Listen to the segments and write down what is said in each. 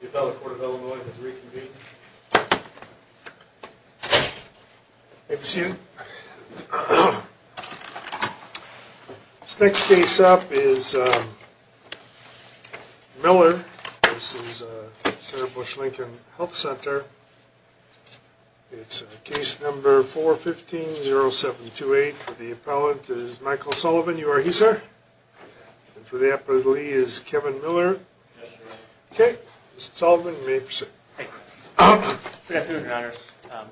The appellate court of Illinois has reconvened. May I be seated? This next case up is Miller v. Sarah Bush Lincoln Health Center. It's case number 415-0728. The appellant is Michael Sullivan. You are he, sir? And for the appellee is Kevin Miller. Okay. Mr. Sullivan, you may be seated. Good afternoon, your honors.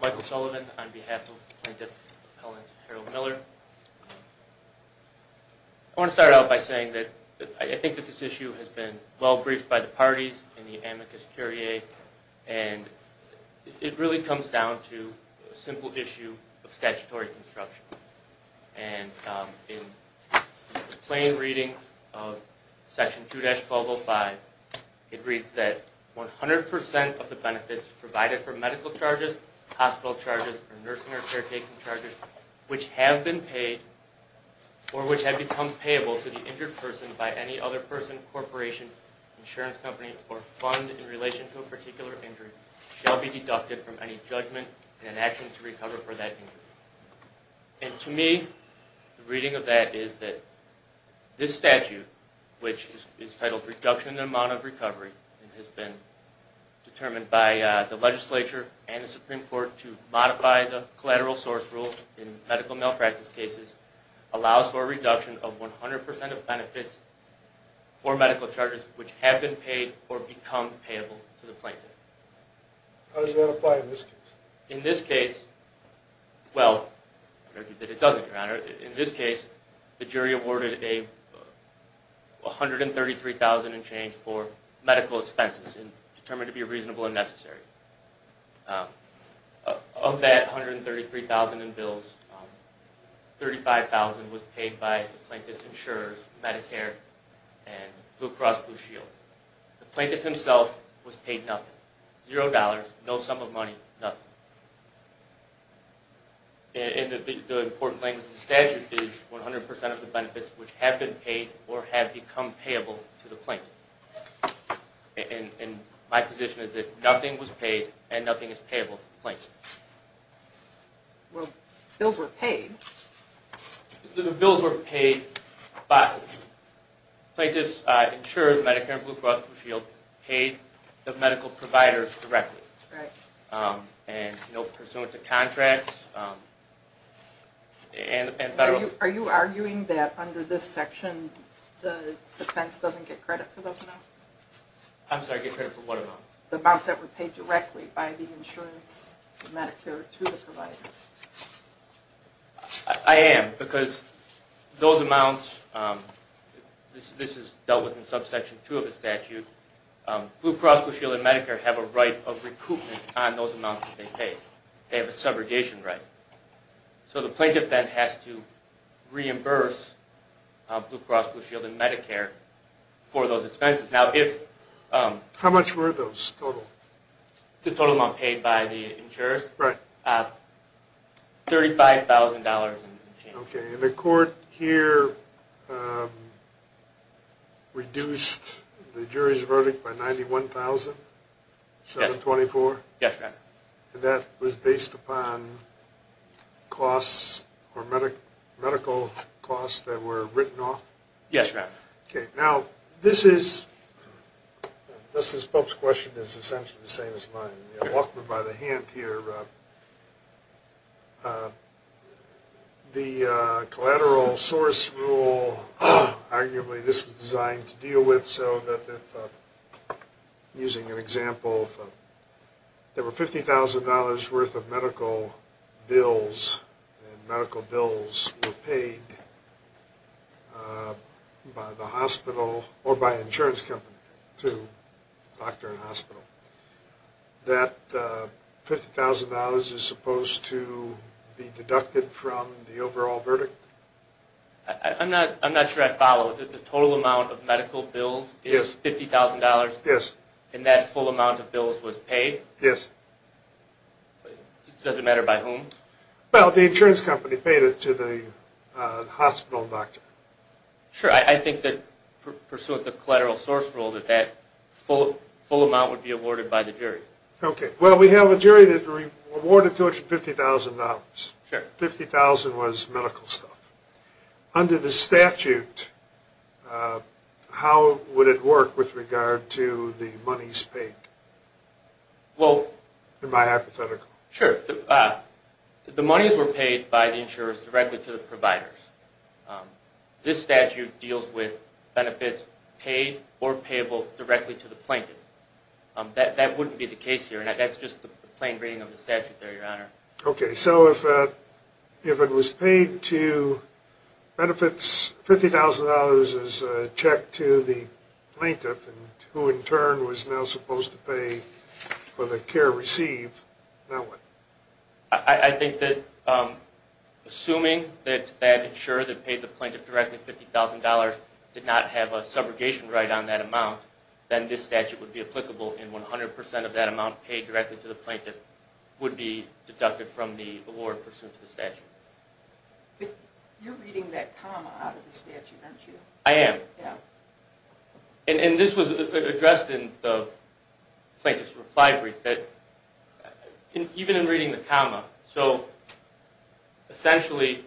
Michael Sullivan on behalf of the plaintiff appellant Harold Miller. I want to start out by saying that I think that this issue has been well briefed by the parties in the amicus curiae and it really comes down to a simple issue of statutory construction. And in the plain reading of section 2-1205, it reads that 100% of the benefits provided for medical charges, hospital charges, or nursing or caretaking charges which have been paid or which have become payable to the injured person by any other person, corporation, insurance company, or fund in relation to a particular injury shall be deducted from any judgment in an action to recover for that injury. And to me, the reading of that is that this statute, which is titled reduction in the amount of recovery, has been determined by the legislature and the Supreme Court to modify the collateral source rule in medical malpractice cases, allows for a reduction of 100% of benefits for medical charges which have been paid or become payable to the plaintiff. How does that apply in this case? In this case, well, in this case, the jury awarded a $133,000 in change for medical expenses determined to be reasonable and necessary. Of that $133,000 in bills, $35,000 was paid by the plaintiff's insurers, Medicare, and Blue Cross Blue Shield. The plaintiff himself and the important language in the statute is 100% of the benefits which have been paid or have become payable to the plaintiff. And my position is that nothing was paid and nothing is payable to the plaintiff. Well, bills were paid. The bills were paid by the plaintiff's insurers, Medicare, and Blue Cross Blue Shield paid the medical provider directly, pursuant to contracts. Are you arguing that under this section, the defense doesn't get credit for those amounts? I'm sorry, get credit for what amount? The amounts that were paid directly by the insurance, Medicare, to the providers. I am, because those amounts, this is dealt with in subsection 2 of the statute, Blue Cross Blue Shield and Medicare have a right of recoupment on those amounts they pay. They have a subrogation right. So the plaintiff then has to reimburse Blue Cross Blue Shield and Medicare for those expenses. Now if... How much were those total? The total amount paid by the insurers? Right. $35,000 in change. Okay. And the court here reduced the jury's verdict by $91,724? Yes, ma'am. And that was based upon costs or medical costs that were written off? Yes, ma'am. Okay. Now, this is... Justice Pope's question is essentially the same as mine. Walk me by the hand here. The collateral source rule, arguably this was designed to deal with so that if, using an example, if there were $50,000 worth of medical bills, and medical bills were paid by the hospital or by insurance company to doctor and hospital, that $50,000 is supposed to be deducted from the overall verdict? I'm not sure I follow. The total amount of medical bills is $50,000? Yes. And that full amount of bills was paid? Yes. Does it matter by whom? Well, the insurance company paid it to the hospital doctor. Sure. I think that, pursuant to the collateral source rule, that that full amount would be awarded by the jury. Okay. Well, we have a jury that awarded to it $50,000. Sure. $50,000 was medical stuff. Under the statute, how would it work with regard to the monies paid? Well... In my hypothetical. Sure. The monies were paid by the insurers directly to the providers. This statute deals with benefits paid or payable directly to the plaintiff. That wouldn't be the case here. That's just the plain reading of the statute there, Your Honor. Okay. So if it was paid to benefits, $50,000 is checked to the plaintiff, who in turn was now supposed to pay for the care received. Now what? I think that assuming that that insurer that paid the plaintiff directly $50,000 did not have a subrogation right on that amount, then this statute would be applicable, and 100% of that amount paid directly to the plaintiff would be deducted from the award pursuant to the statute. You're reading that comma out of the statute, aren't you? I am. And this was addressed in the plaintiff's reply brief that even in reading the comma, so essentially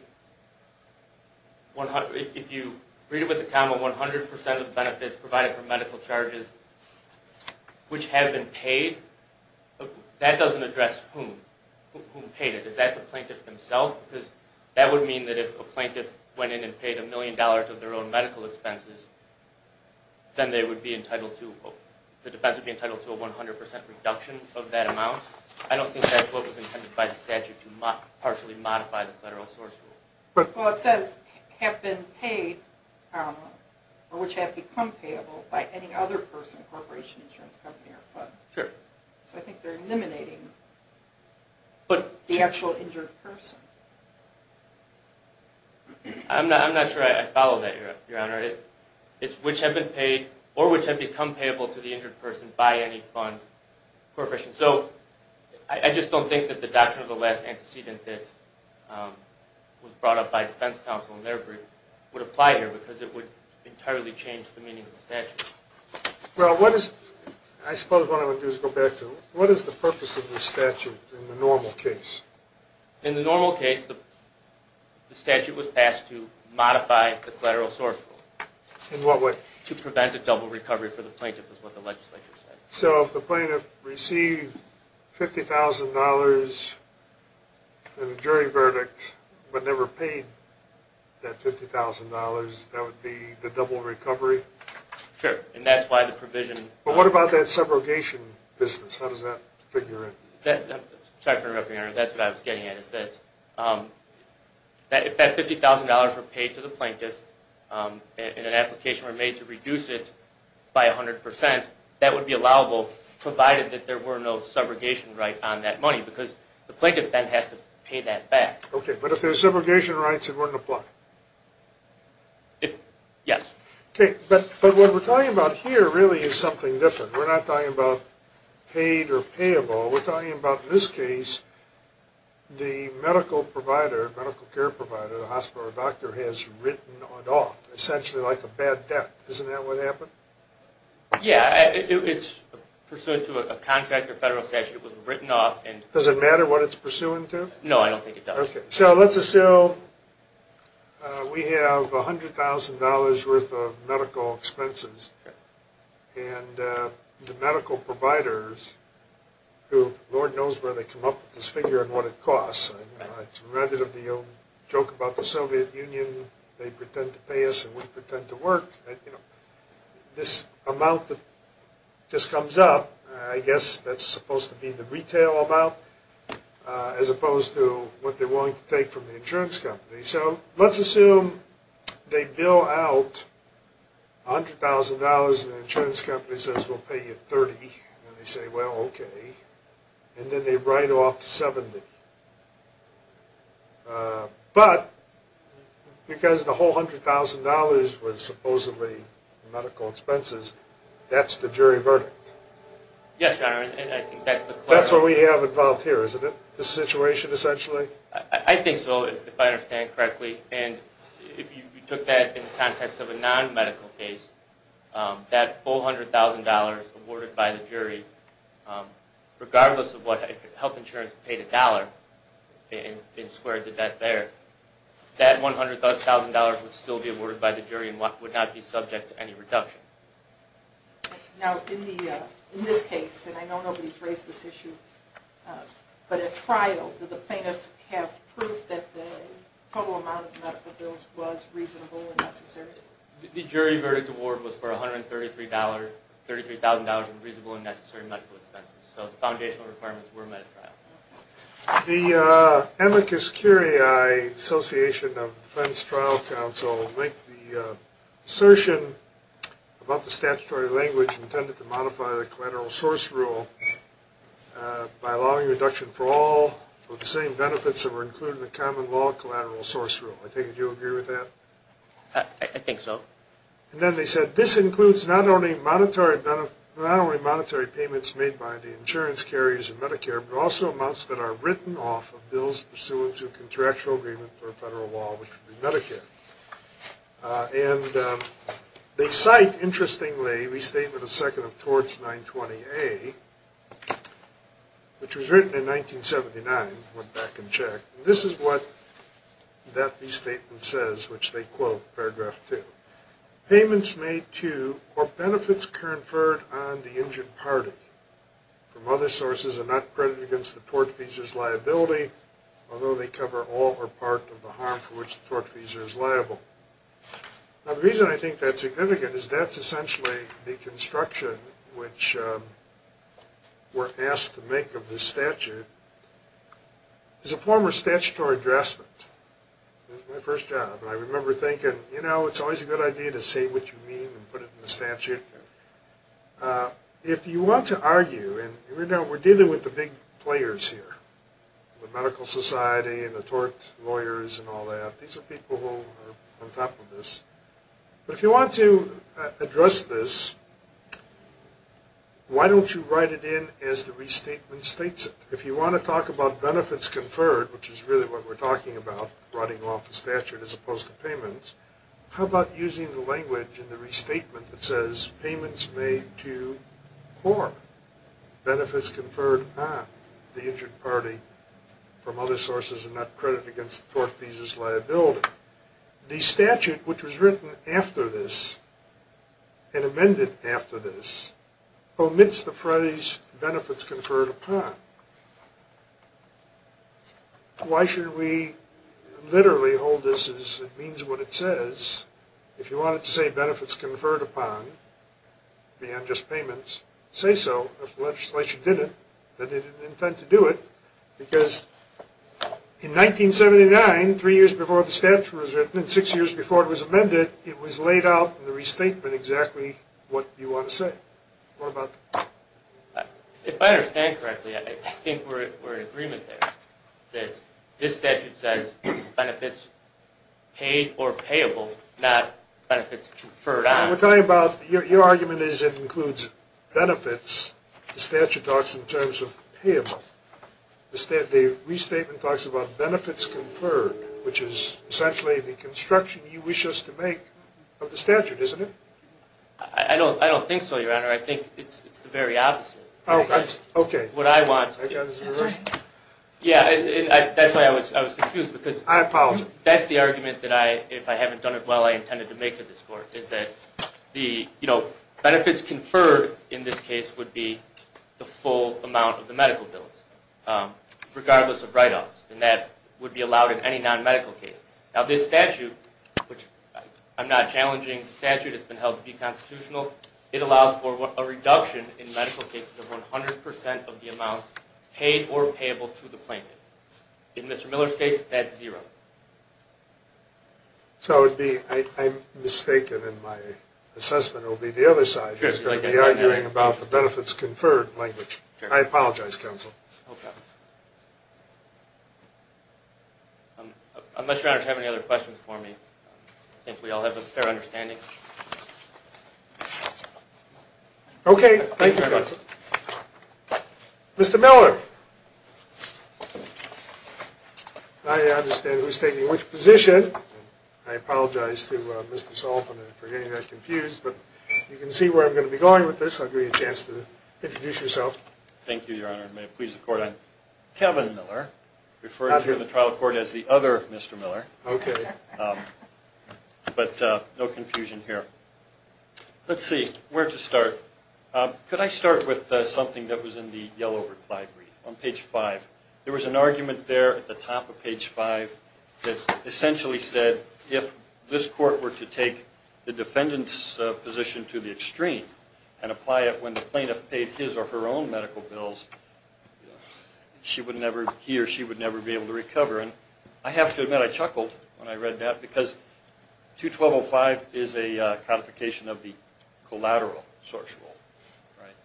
if you read it with the comma, 100% of the benefits provided for medical charges which have been paid, that doesn't address whom paid it. Is that the plaintiff himself? Because that would mean that if a plaintiff went in and paid $1,000,000 of their own medical expenses, then the defense would be entitled to a 100% reduction of that amount. I don't think that's what was intended by the statute to partially modify the federal source rule. Well, it says have been paid or which have become payable by any other person, corporation, insurance company, or fund. So I think they're eliminating the actual injured person. I'm not sure I follow that, Your Honor. It's which have been paid or which have become payable to the injured person by any fund, corporation. So I just don't think that the doctrine of the last antecedent that was brought up by defense counsel in their brief would apply here because it would entirely change the meaning of the statute. What is the purpose of the statute in the normal case? In the normal case, the statute was passed to modify the collateral source rule. In what way? To prevent a double recovery for the plaintiff is what the legislature said. So if the plaintiff received $50,000 in a jury verdict but never paid that $50,000, that would be the double recovery? Sure, and that's why the provision... But what about that subrogation business? How does that figure in? Sorry for interrupting, Your Honor. That's what I was getting at is that if that $50,000 were paid to the plaintiff and an application were made to reduce it by 100%, that would be allowable provided that there were no subrogation right on that money because the plaintiff then has to pay that back. Okay, but if there's subrogation rights it wouldn't apply? Yes. But what we're talking about here really is something different. We're not talking about paid or payable. We're talking about in this case the medical provider, medical care provider, the hospital or doctor has written it off, essentially like a bad debt. Isn't that what happened? Yeah, it's pursuant to a contract or federal statute. It was written off. Does it matter what it's pursuant to? No, I don't think it does. Okay, so let's assume we have $100,000 worth of medical expenses and the medical providers, who Lord knows where they come up with this figure and what it costs. It's a relative deal. Joke about the Soviet Union, they pretend to pay us and we pretend to work. This amount that just comes up I guess that's supposed to be the retail amount as opposed to what they're willing to take from the insurance company. So let's assume they bill out $100,000 and the insurance company says we'll pay you $30,000 and they say, well, okay. And then they write off $70,000. But because the whole $100,000 was supposedly medical expenses, that's the jury verdict. Yes, Your Honor. That's what we have involved here, isn't it? The situation, essentially? I think so, if I understand correctly. And if you took that in the context of a non-medical case, that $400,000 awarded by the jury, regardless of what health insurance paid a dollar and squared the debt there, that $100,000 would still be awarded by the jury and would not be subject to any reduction. Now, in this case, and I know nobody's raised this issue, but at trial, did the plaintiff have proof that the total amount of medical bills was reasonable and necessary? The jury verdict award was for $133,000 and reasonable and necessary medical expenses. So the foundational requirements were met at trial. The Amicus Curiae Association of Defense Trial Counsel make the about the statutory language intended to modify the collateral source rule by allowing reduction for all of the same benefits that were included in the common law collateral source rule. I take it you agree with that? I think so. And then they said, this includes not only monetary payments made by the insurance carriers and Medicare, but also amounts that are written off of bills pursuant to contractual agreement or federal law, which would be Medicare. And they cite, interestingly, restatement of 2nd of Torts 920A, which was written in 1979, went back and checked. This is what that restatement says, which they quote paragraph 2. Payments made to or benefits conferred on the injured party from other sources are not credited against the tortfeasor's liability, although they cover all or part of the harm for which the tortfeasor is liable. Now the reason I think that's significant is that's essentially the construction which we're asked to make of this statute is a former statutory draftsman. That was my first job. And I remember thinking, you know, it's always a good idea to say what you mean and put it in the statute. If you want to argue and we're dealing with the big players here, the tortfeasors and all that, these are people who are on top of this. But if you want to address this, why don't you write it in as the restatement states it? If you want to talk about benefits conferred, which is really what we're talking about, writing off the statute as opposed to payments, how about using the language in the restatement that says payments made to or benefits conferred on the injured party from other sources are not credited against the tortfeasor's liability. The statute, which was written after this, and amended after this, omits the phrase benefits conferred upon. Why should we literally hold this as it means what it says if you wanted to say benefits conferred upon, beyond just payments, say so if the legislation didn't, that they didn't intend to In 1979, three years before the statute was written, and six years before it was amended, it was laid out in the restatement exactly what you want to say. What about that? If I understand correctly, I think we're in agreement there, that this statute says benefits paid or payable, not benefits conferred on. We're talking about, your argument is it includes benefits. The statute talks in terms of payable. The restatement talks about benefits conferred, which is essentially the construction you wish us to make of the statute, isn't it? I don't think so, your honor. I think it's the very opposite. Oh, okay. Yeah, that's why I was confused. I apologize. That's the argument, if I haven't done it well, I intended to make to this court, is that benefits conferred in this case would be the full amount of the medical bills, regardless of write-offs, and that would be allowed in any non-medical case. Now this statute, which I'm not challenging the statute, it's been held to be constitutional, it allows for a reduction in medical cases of 100% of the amount paid or payable to the plaintiff. In Mr. Miller's case, that's zero. So it would be, I'm mistaken in my assessment, it would be the other side who's going to be arguing about the benefits conferred language. I apologize, counsel. Okay. Unless your honors have any other questions for me, I think we all have a fair understanding. Okay. Thank you, counsel. Mr. Miller. I understand who's taking which position. I apologize to Mr. Sullivan for getting that confused, but you can see where I'm going to be going with this. I'll give you a chance to introduce yourself. Thank you, your honor. May it please the court, I'm Kevin Miller, referred to in the trial court as the other Mr. Miller. But no confusion here. Let's see, where to start. Could I start with something that was in the yellow reply brief on page 5? There was an argument there at the top of page 5 that essentially said if this court were to take the defendant's position to the extreme and apply it when the plaintiff paid his or her own medical bills, he or she would never be able to recover. And I have to admit, I chuckled when I read that because 212.05 is a codification of the collateral source rule.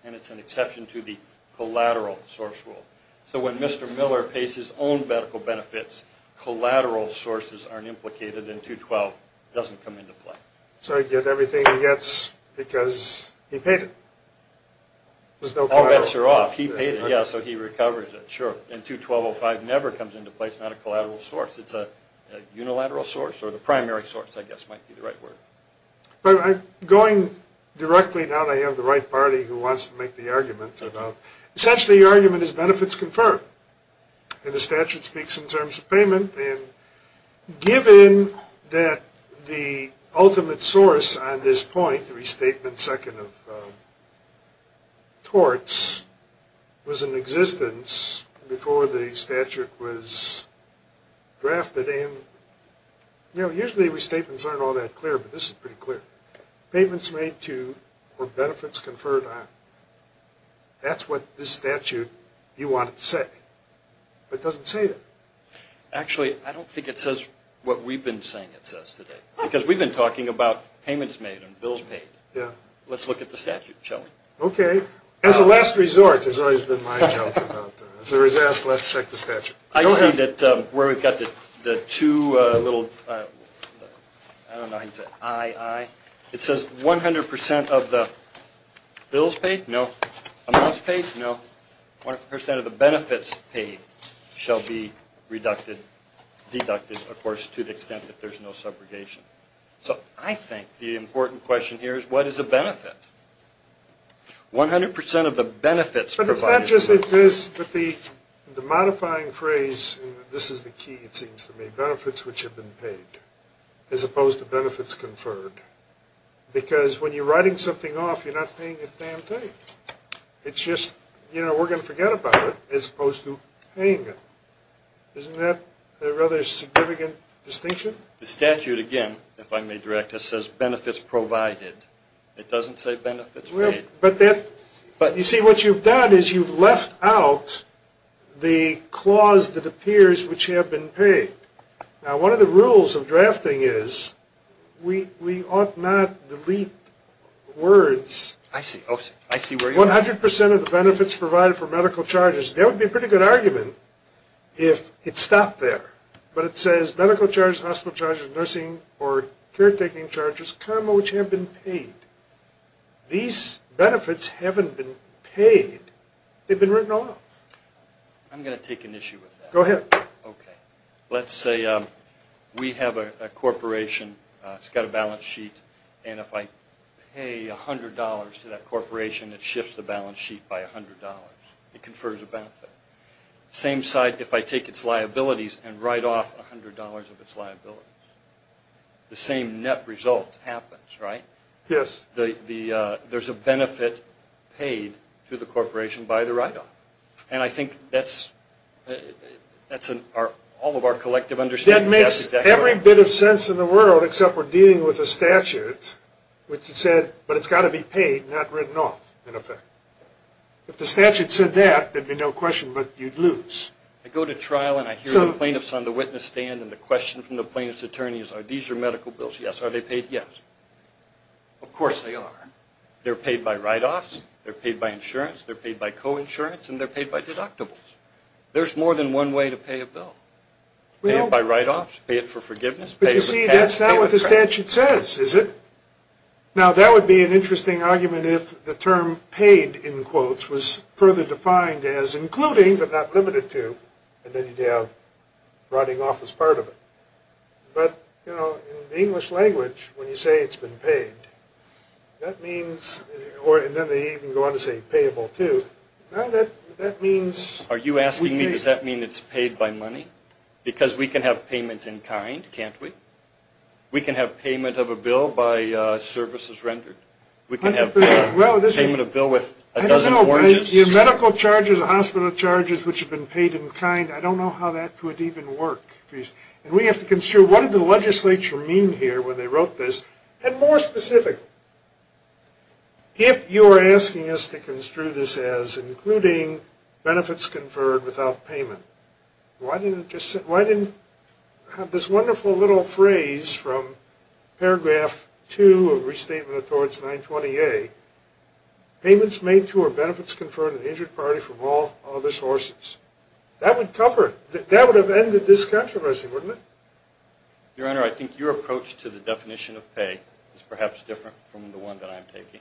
And it's an exception to the collateral source rule. So when Mr. Miller pays his own medical benefits, collateral sources aren't implicated and 212.05 doesn't come into play. So he'd get everything he gets because he paid it. All bets are off. He paid it, yeah, so he recovers it, sure. And 212.05 never comes into place. It's not a collateral source. It's a unilateral source, or the primary source, I guess might be the right word. Going directly, now that I have the right party who wants to make the argument, essentially your argument is benefits confirmed. And the statute speaks in terms of payment. And given that the ultimate source on this point, the restatement second of torts, was in existence before the statute was drafted, and you know, usually restatements aren't all that clear, but this is pretty clear. Payments made to, or benefits conferred on. That's what this statute, you want it to say. But it doesn't say that. Actually, I don't think it says what we've been saying it says today. Because we've been talking about payments made and bills paid. Yeah. Let's look at the statute, shall we? Okay. As a last resort, has always been my joke about, as there is ask, let's check the statute. I see that where we've got the two little I don't know how you say it, I, I, it says 100% of the bills paid? No. Amounts paid? No. 100% of the benefits paid shall be deducted, of course, to the extent that there's no subrogation. So, I think the important question here is, what is a benefit? 100% of the benefits provided. But it's not just that this the modifying phrase, this is the key, it seems to me. Benefits which have been paid. As opposed to benefits conferred. Because when you're writing something off, you're not paying a damn thing. It's just, you know, we're going to forget about it, as opposed to paying it. Isn't that a rather significant distinction? The statute, again, if I may direct us, says benefits provided. It doesn't say benefits paid. But that, you see, what you've done is you've left out the clause that appears, which have been paid. Now, one of the rules of drafting is, we, we ought not delete words. 100% of the benefits provided for medical charges. That would be a pretty good argument if it stopped there. But it says, medical charges, hospital charges, nursing or caretaking charges, comma, which have been paid. These benefits haven't been paid. They've been written off. I'm going to take an issue with that. Go ahead. Let's say we have a corporation. It's got a balance sheet. And if I pay $100 to that corporation, it shifts the balance sheet by $100. It confers a benefit. Same side, if I take its liabilities and write off $100 of its liabilities. The same net result happens, right? Yes. There's a benefit paid to the corporation by the write-off. And I think that's all of our collective understanding. That makes every bit of the statute, which said, but it's got to be paid, not written off in effect. If the statute said that, there'd be no question, but you'd lose. I go to trial and I hear the plaintiffs on the witness stand and the question from the plaintiff's attorney is, are these your medical bills? Yes. Are they paid? Yes. Of course they are. They're paid by write-offs. They're paid by insurance. They're paid by coinsurance. And they're paid by deductibles. There's more than one way to pay a bill. Pay it by write-offs. Pay it for forgiveness. But you see, that's not what the statute says, is it? Now, that would be an interesting argument if the term paid, in quotes, was further defined as including, but not limited to, and then you'd have writing off as part of it. But, you know, in the English language, when you say it's been paid, that means or, and then they even go on to say payable too. Now that means... Are you asking me, does that mean it's paid by money? Because we can have payment in kind, can't we? We can have payment of a bill by services rendered. We can have payment of a bill with a dozen forges. I don't know, medical charges, hospital charges, which have been paid in kind, I don't know how that would even work. And we have to construe, what did the legislature mean here when they wrote this? And more specifically, if you're asking us to construe this as including benefits conferred without payment, why didn't this wonderful little phrase from paragraph 2 of Restatement of Torts 920A, payments made to or benefits conferred to the injured party from all other sources, that would cover, that would have ended this controversy, wouldn't it? Your Honor, I think your approach to the definition of pay is perhaps different from the one that I'm taking.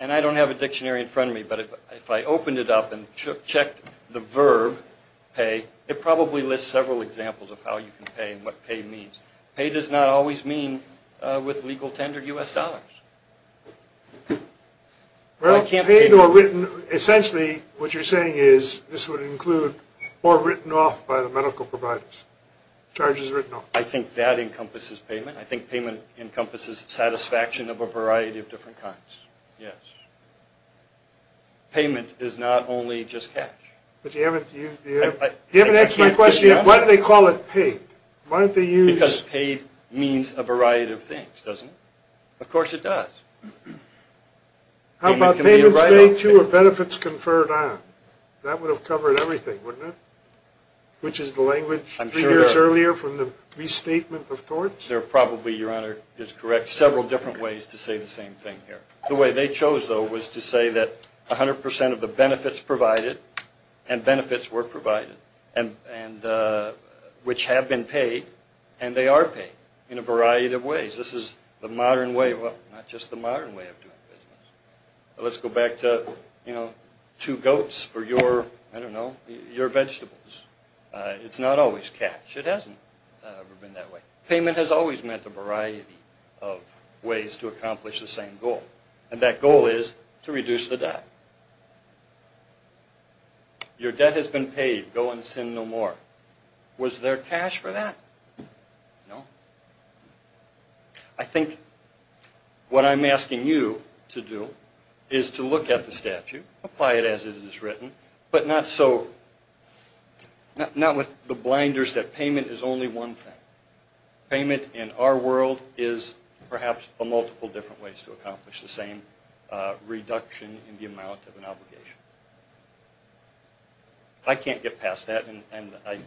And I don't have a dictionary in front of me, but if I opened it up and checked the verb, pay, it probably lists several examples of how you can pay and what pay means. Pay does not always mean with legal tendered U.S. dollars. Well, paid or written, essentially what you're saying is this would include or written off by the medical providers. Charges written off. I think that encompasses payment. I think payment encompasses satisfaction of a variety of different kinds. Yes. Payment is not only just cash. But you haven't used the, you haven't answered my question, why do they call it paid? Because paid means a variety of things, doesn't it? Of course it does. How about payments made to or benefits conferred on? That would have covered everything, wouldn't it? Which is the language we used earlier from the Restatement of Torts? There are probably, Your Honor is correct, several different ways to say the same thing here. The way they chose, though, was to say that 100% of the benefits provided and benefits were provided which have been paid and they are paid in a variety of ways. This is the modern way, well, not just the modern way of doing business. Let's go back to, you know, two goats for your I don't know, your vegetables. It's not always cash. It hasn't ever been that way. Payment has always meant a variety of ways to accomplish the same goal. And that goal is to reduce the debt. Your debt has been paid. Go and sin no more. Was there cash for that? No. I think what I'm asking you to do is to look at the statute, apply it as it is written, but not so not with the blinders that payment is only one thing. Payment in our world is perhaps a multiple different ways to accomplish the same reduction in the amount of an obligation. I can't get past that and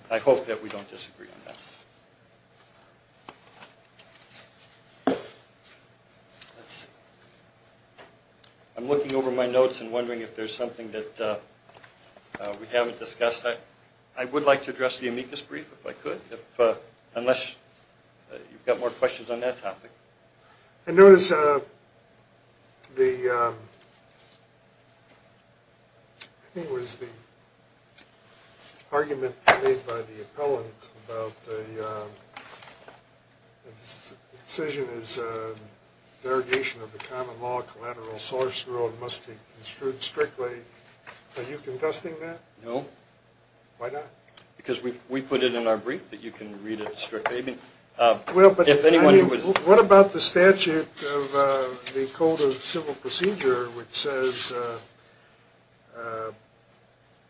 I hope that we don't disagree on that. Let's see. I'm looking over my notes and wondering if there's something that we haven't discussed. I would like to address the amicus brief if I could unless you've got more questions on that topic. I noticed I think it was the argument made by the appellant about the decision is derogation of the common law collateral source rule must be construed strictly. Are you contesting that? No. Why not? Because we put it in our brief that you can read it strictly. What about the statute of the code of civil procedure which says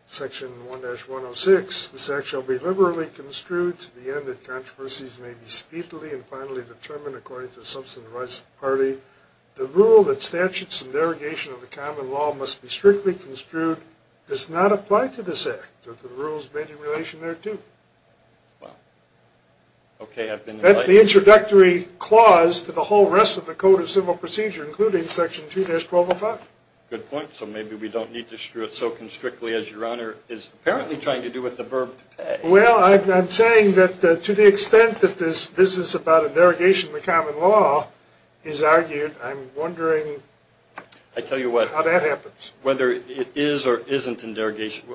section 1-106, this act shall be liberally construed to the end that controversies may be speedily and finally determined according to the substantive rights of the party. The rule that statutes and derogation of the common law must be strictly construed does not apply to this act. The rule is made in relation there too. That's the introductory clause to the whole rest of the code of civil procedure including section 2-1205. Good point. So maybe we don't need to strew it so constrictly as your honor is apparently trying to do with the verb to pay. Well, I'm saying that to the extent that this is about a derogation of the common law is argued I'm wondering how that happens. Whether it is or isn't a derogation,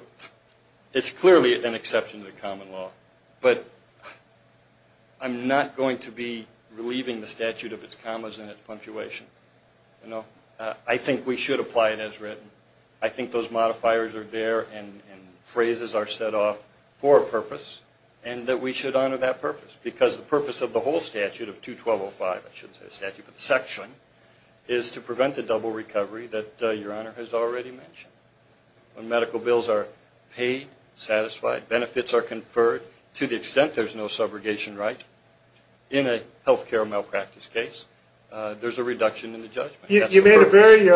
it's clearly an exception to the common law but I'm not going to be relieving the statute of its commas and its punctuation. I think we should apply it as written. I think those modifiers are there and phrases are set off for a purpose and that we should honor that purpose because the purpose of the whole statute of 2-1205, I shouldn't say statute but the section, is to prevent the double recovery that your honor has already mentioned. When medical bills are paid, satisfied, benefits are conferred to the extent there's no subrogation right in a health care malpractice case there's a reduction in the judgment. You made a very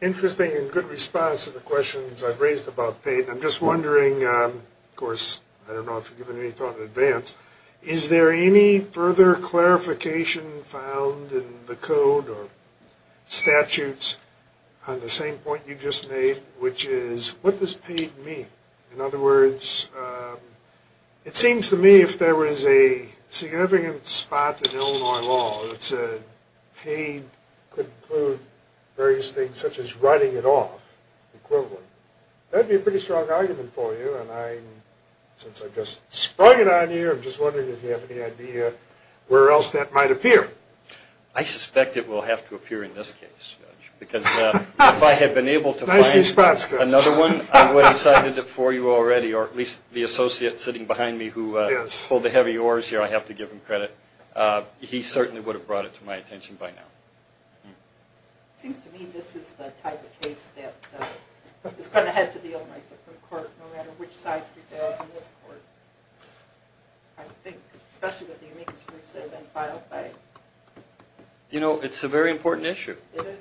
interesting and good response to the questions I've raised about paid and I'm just wondering of course, I don't know if you've given any thought in advance, is there any further clarification found in the code or statutes on the same point you just made which is what does paid mean? In other words it seems to me if there was a significant spot in Illinois law that said paid could include various things such as writing it off, equivalent that would be a pretty strong argument for you and since I've just sprung it on you, I'm just wondering if you have any idea where else that might appear. I suspect it will have to appear in this case because if I had been able to find another one I would have cited it for you already or at least the associate sitting behind me who pulled the heavy oars here I have to give him credit. He certainly would have brought it to my attention by now. It seems to me this is the type of case that is going to head to the Illinois Supreme Court no matter which side it is in this court. I think especially with the you know it's a very important issue.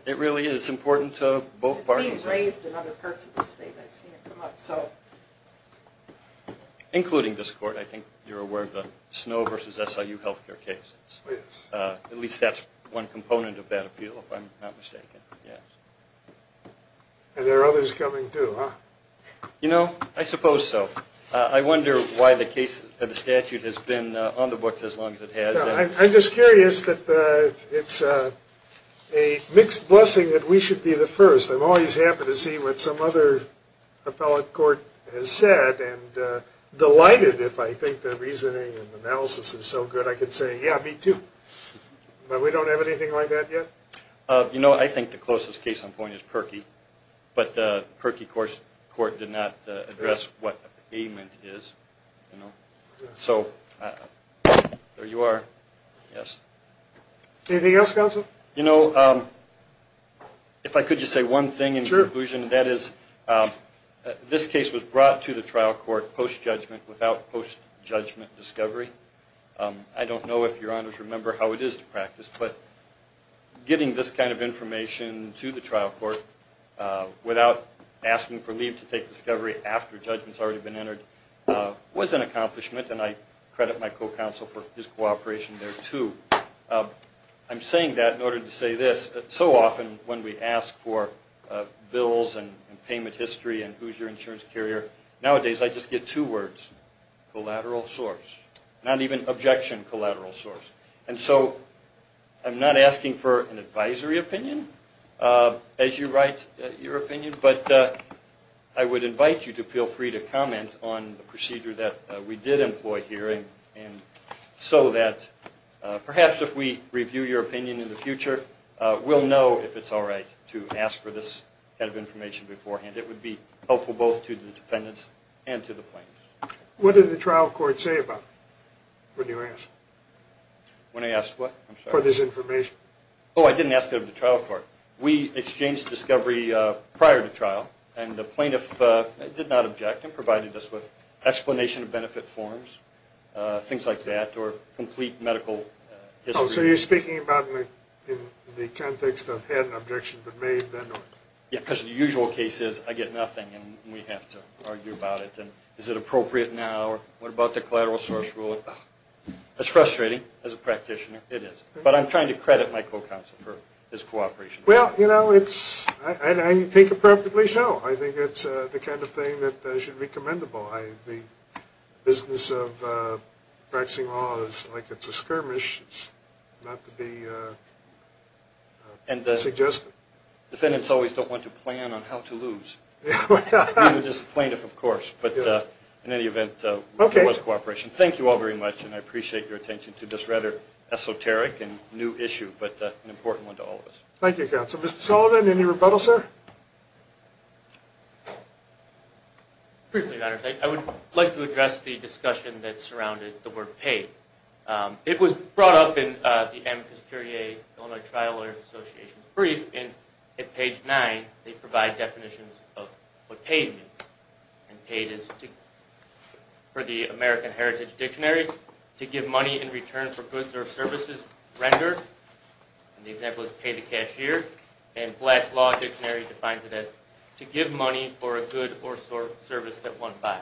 It really is important to both parties. It's being raised in other parts of the state I've seen it come up so including this court I think you're aware of the Snow v. SIU health care case. At least that's one component of that appeal if I'm not mistaken. And there are others coming too, huh? You know I suppose so. I wonder why the case of the statute has been on the books as long as it has. I'm just curious that it's a mixed blessing that we should be the first. I'm always happy to see what some other appellate court has said and delighted if I think their reasoning and analysis is so good I could say yeah me too. But we don't have anything like that yet? You know I think the closest case on point is Perkey. But the Perkey court did not address what the payment is. So there you are. Anything else counsel? If I could just say one thing in conclusion. This case was brought to the trial court post-judgment without post-judgment discovery. I don't know if your honors remember how it is to practice but getting this kind of information to the trial court without asking for leave to take discovery after judgment has already been entered was an accomplishment and I credit my co-counsel for his cooperation there too. I'm saying that in order to say this. So often when we ask for bills and payment history and who's your insurance carrier, nowadays I just get two words. Collateral source. Not even objection collateral source. And so I'm not asking for an advisory opinion as you write your opinion but I would invite you to feel free to comment on the procedure that we did employ here and so that perhaps if we review your opinion in the future we'll know if it's alright to ask for this kind of information beforehand. It would be helpful both to the defendants and to the plaintiffs. What did the trial court say about it when you asked? When I asked what? For this information. Oh I didn't ask it of the trial court. We exchanged discovery prior to trial and the plaintiff did not object and provided us with explanation of benefit forms, things like that or complete medical history. Oh so you're speaking about in the context of had an objection been made then not. Yeah because the usual case is I get nothing and we have to argue about it and is it appropriate now or what about the collateral source rule? It's frustrating as a practitioner. It is. But I'm trying to credit my co-counsel for his cooperation. Well you know it's, I think appropriately so. I think it's the kind of thing that should be commendable. The business of practicing law is like it's a skirmish. It's not to be suggested. Defendants always don't want to plan on how to lose. I mean the plaintiff of course but in any event it was cooperation. Thank you all very much and I appreciate your attention to this rather esoteric and new issue but an important one to all of us. Thank you counsel. Mr. Sullivan any rebuttal sir? Briefly Your Honor. I would like to address the discussion that surrounded the word paid. It was brought up in the Amicus Curiae Illinois Trial Lawyers Association's brief and at page 9 they provide definitions of what paid means and paid is for the American Heritage Dictionary to give money in return for goods or services rendered. The example is pay the cashier and Black's Law Dictionary defines it as to give money for a good or service that one buys.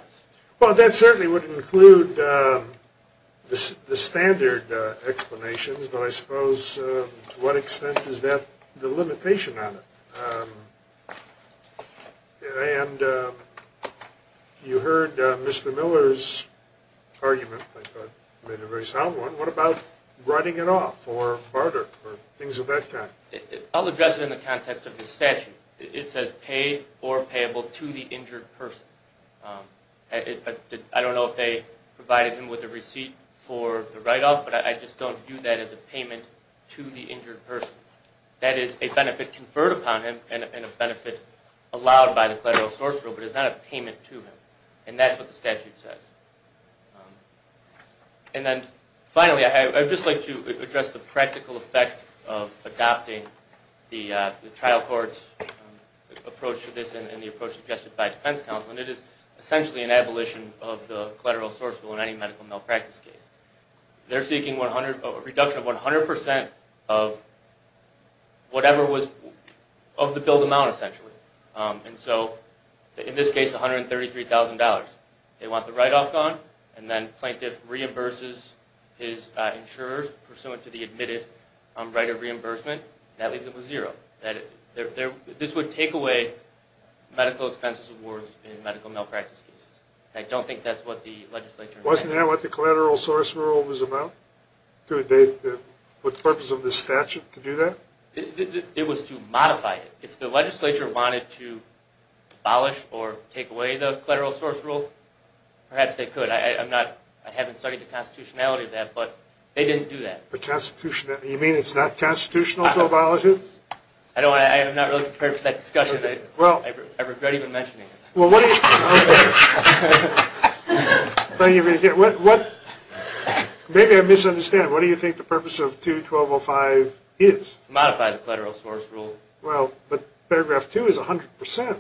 Well that certainly would include the standard explanations but I suppose to what extent is that the limitation on it? And you heard Mr. Miller's argument make a very sound one. What about writing it off or barter or things of that kind? I'll address it in the context of the statute. It says pay or payable to the injured person. I don't know if they provided him with a receipt for the write off but I just don't view that as a payment to the injured person. That is a benefit conferred upon him and a benefit allowed by the collateral source rule but it's not a payment to him and that's what the statute says. And then finally I would just like to address the practical effect of adopting the trial court approach to this and the approach suggested by defense counsel and it is essentially an abolition of the collateral source rule in any medical malpractice case. They're seeking a reduction of 100% of whatever was of the billed amount essentially and so in this case it's $133,000. They want the write off gone and then plaintiff reimburses his insurers pursuant to the admitted right of reimbursement. That leaves it with zero. This would take away medical expenses awards in medical malpractice cases. I don't think that's what the legislature... Wasn't that what the collateral source rule was about? What purpose of the statute to do that? It was to modify it. If the legislature wanted to abolish or take away the collateral source rule perhaps they could. I haven't studied the constitutionality of that but they didn't do that. You mean it's not constitutional to abolish it? I'm not really prepared for that discussion. I regret even mentioning it. Well what do you... Maybe I'm misunderstanding. What do you think the purpose of 2205 is? Modify the collateral source rule. Well but paragraph 2 is 100%.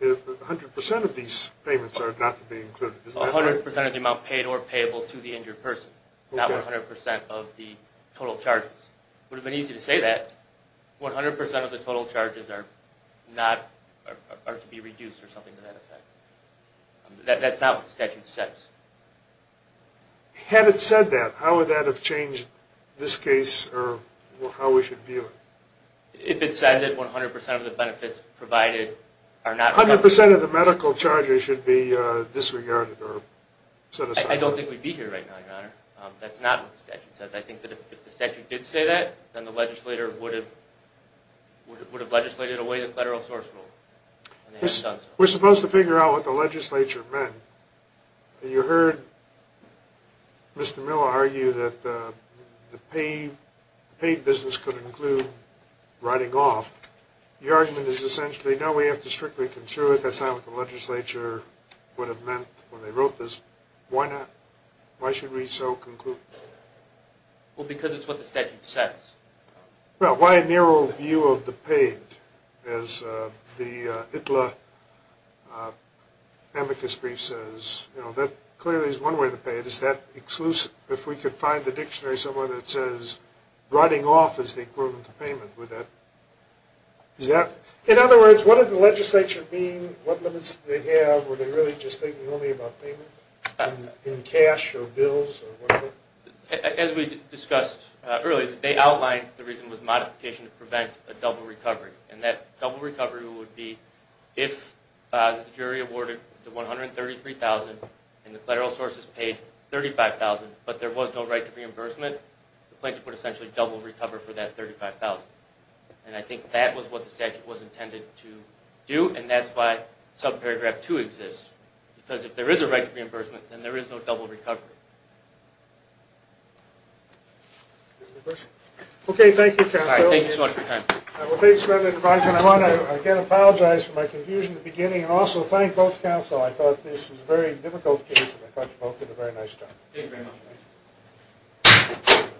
100% of these payments are not to be included. 100% of the amount paid or payable to the injured person. Not 100% of the total charges. It would have been easy to say that. 100% of the total charges are to be reduced or something to that effect. That's not what the statute says. Had it said that how would that have changed this case or how we should view it? If it said that 100% of the benefits provided are not... 100% of the medical charges should be disregarded or set aside. I don't think we'd be here right now your honor. That's not what the statute says. If the statute did say that then the legislator would have legislated away the collateral source rule. We're supposed to figure out what the legislature meant. You heard Mr. Miller argue that the paid business could include writing off. The argument is essentially no we have to strictly consider it. That's not what the legislature would have meant when they wrote this. Why not? Why should we so conclude? Well because it's what the statute says. Well why a narrow view of the paid as the ITLA amicus brief says. That clearly is one way to pay it. Is that exclusive? If we could find the dictionary somewhere that says writing off is the equivalent to payment. In other words, what did the legislature mean? What limits did they have? Were they really just thinking only about payment in cash or bills? As we discussed earlier, they outlined the reason was modification to prevent a double recovery. And that double recovery would be if the jury awarded the $133,000 and the collateral sources paid $35,000 but there was no right to reimbursement, the plaintiff would essentially double recover for that $35,000. And I think that was what the statute was intended to do and that's why subparagraph 2 exists. Because if there is a right to reimbursement then there is no double recovery. Okay, thank you counsel. Thank you so much for your time. I want to again apologize for my confusion in the beginning and also thank both counsel. I thought this was a very difficult case and I thought you both did a very nice job.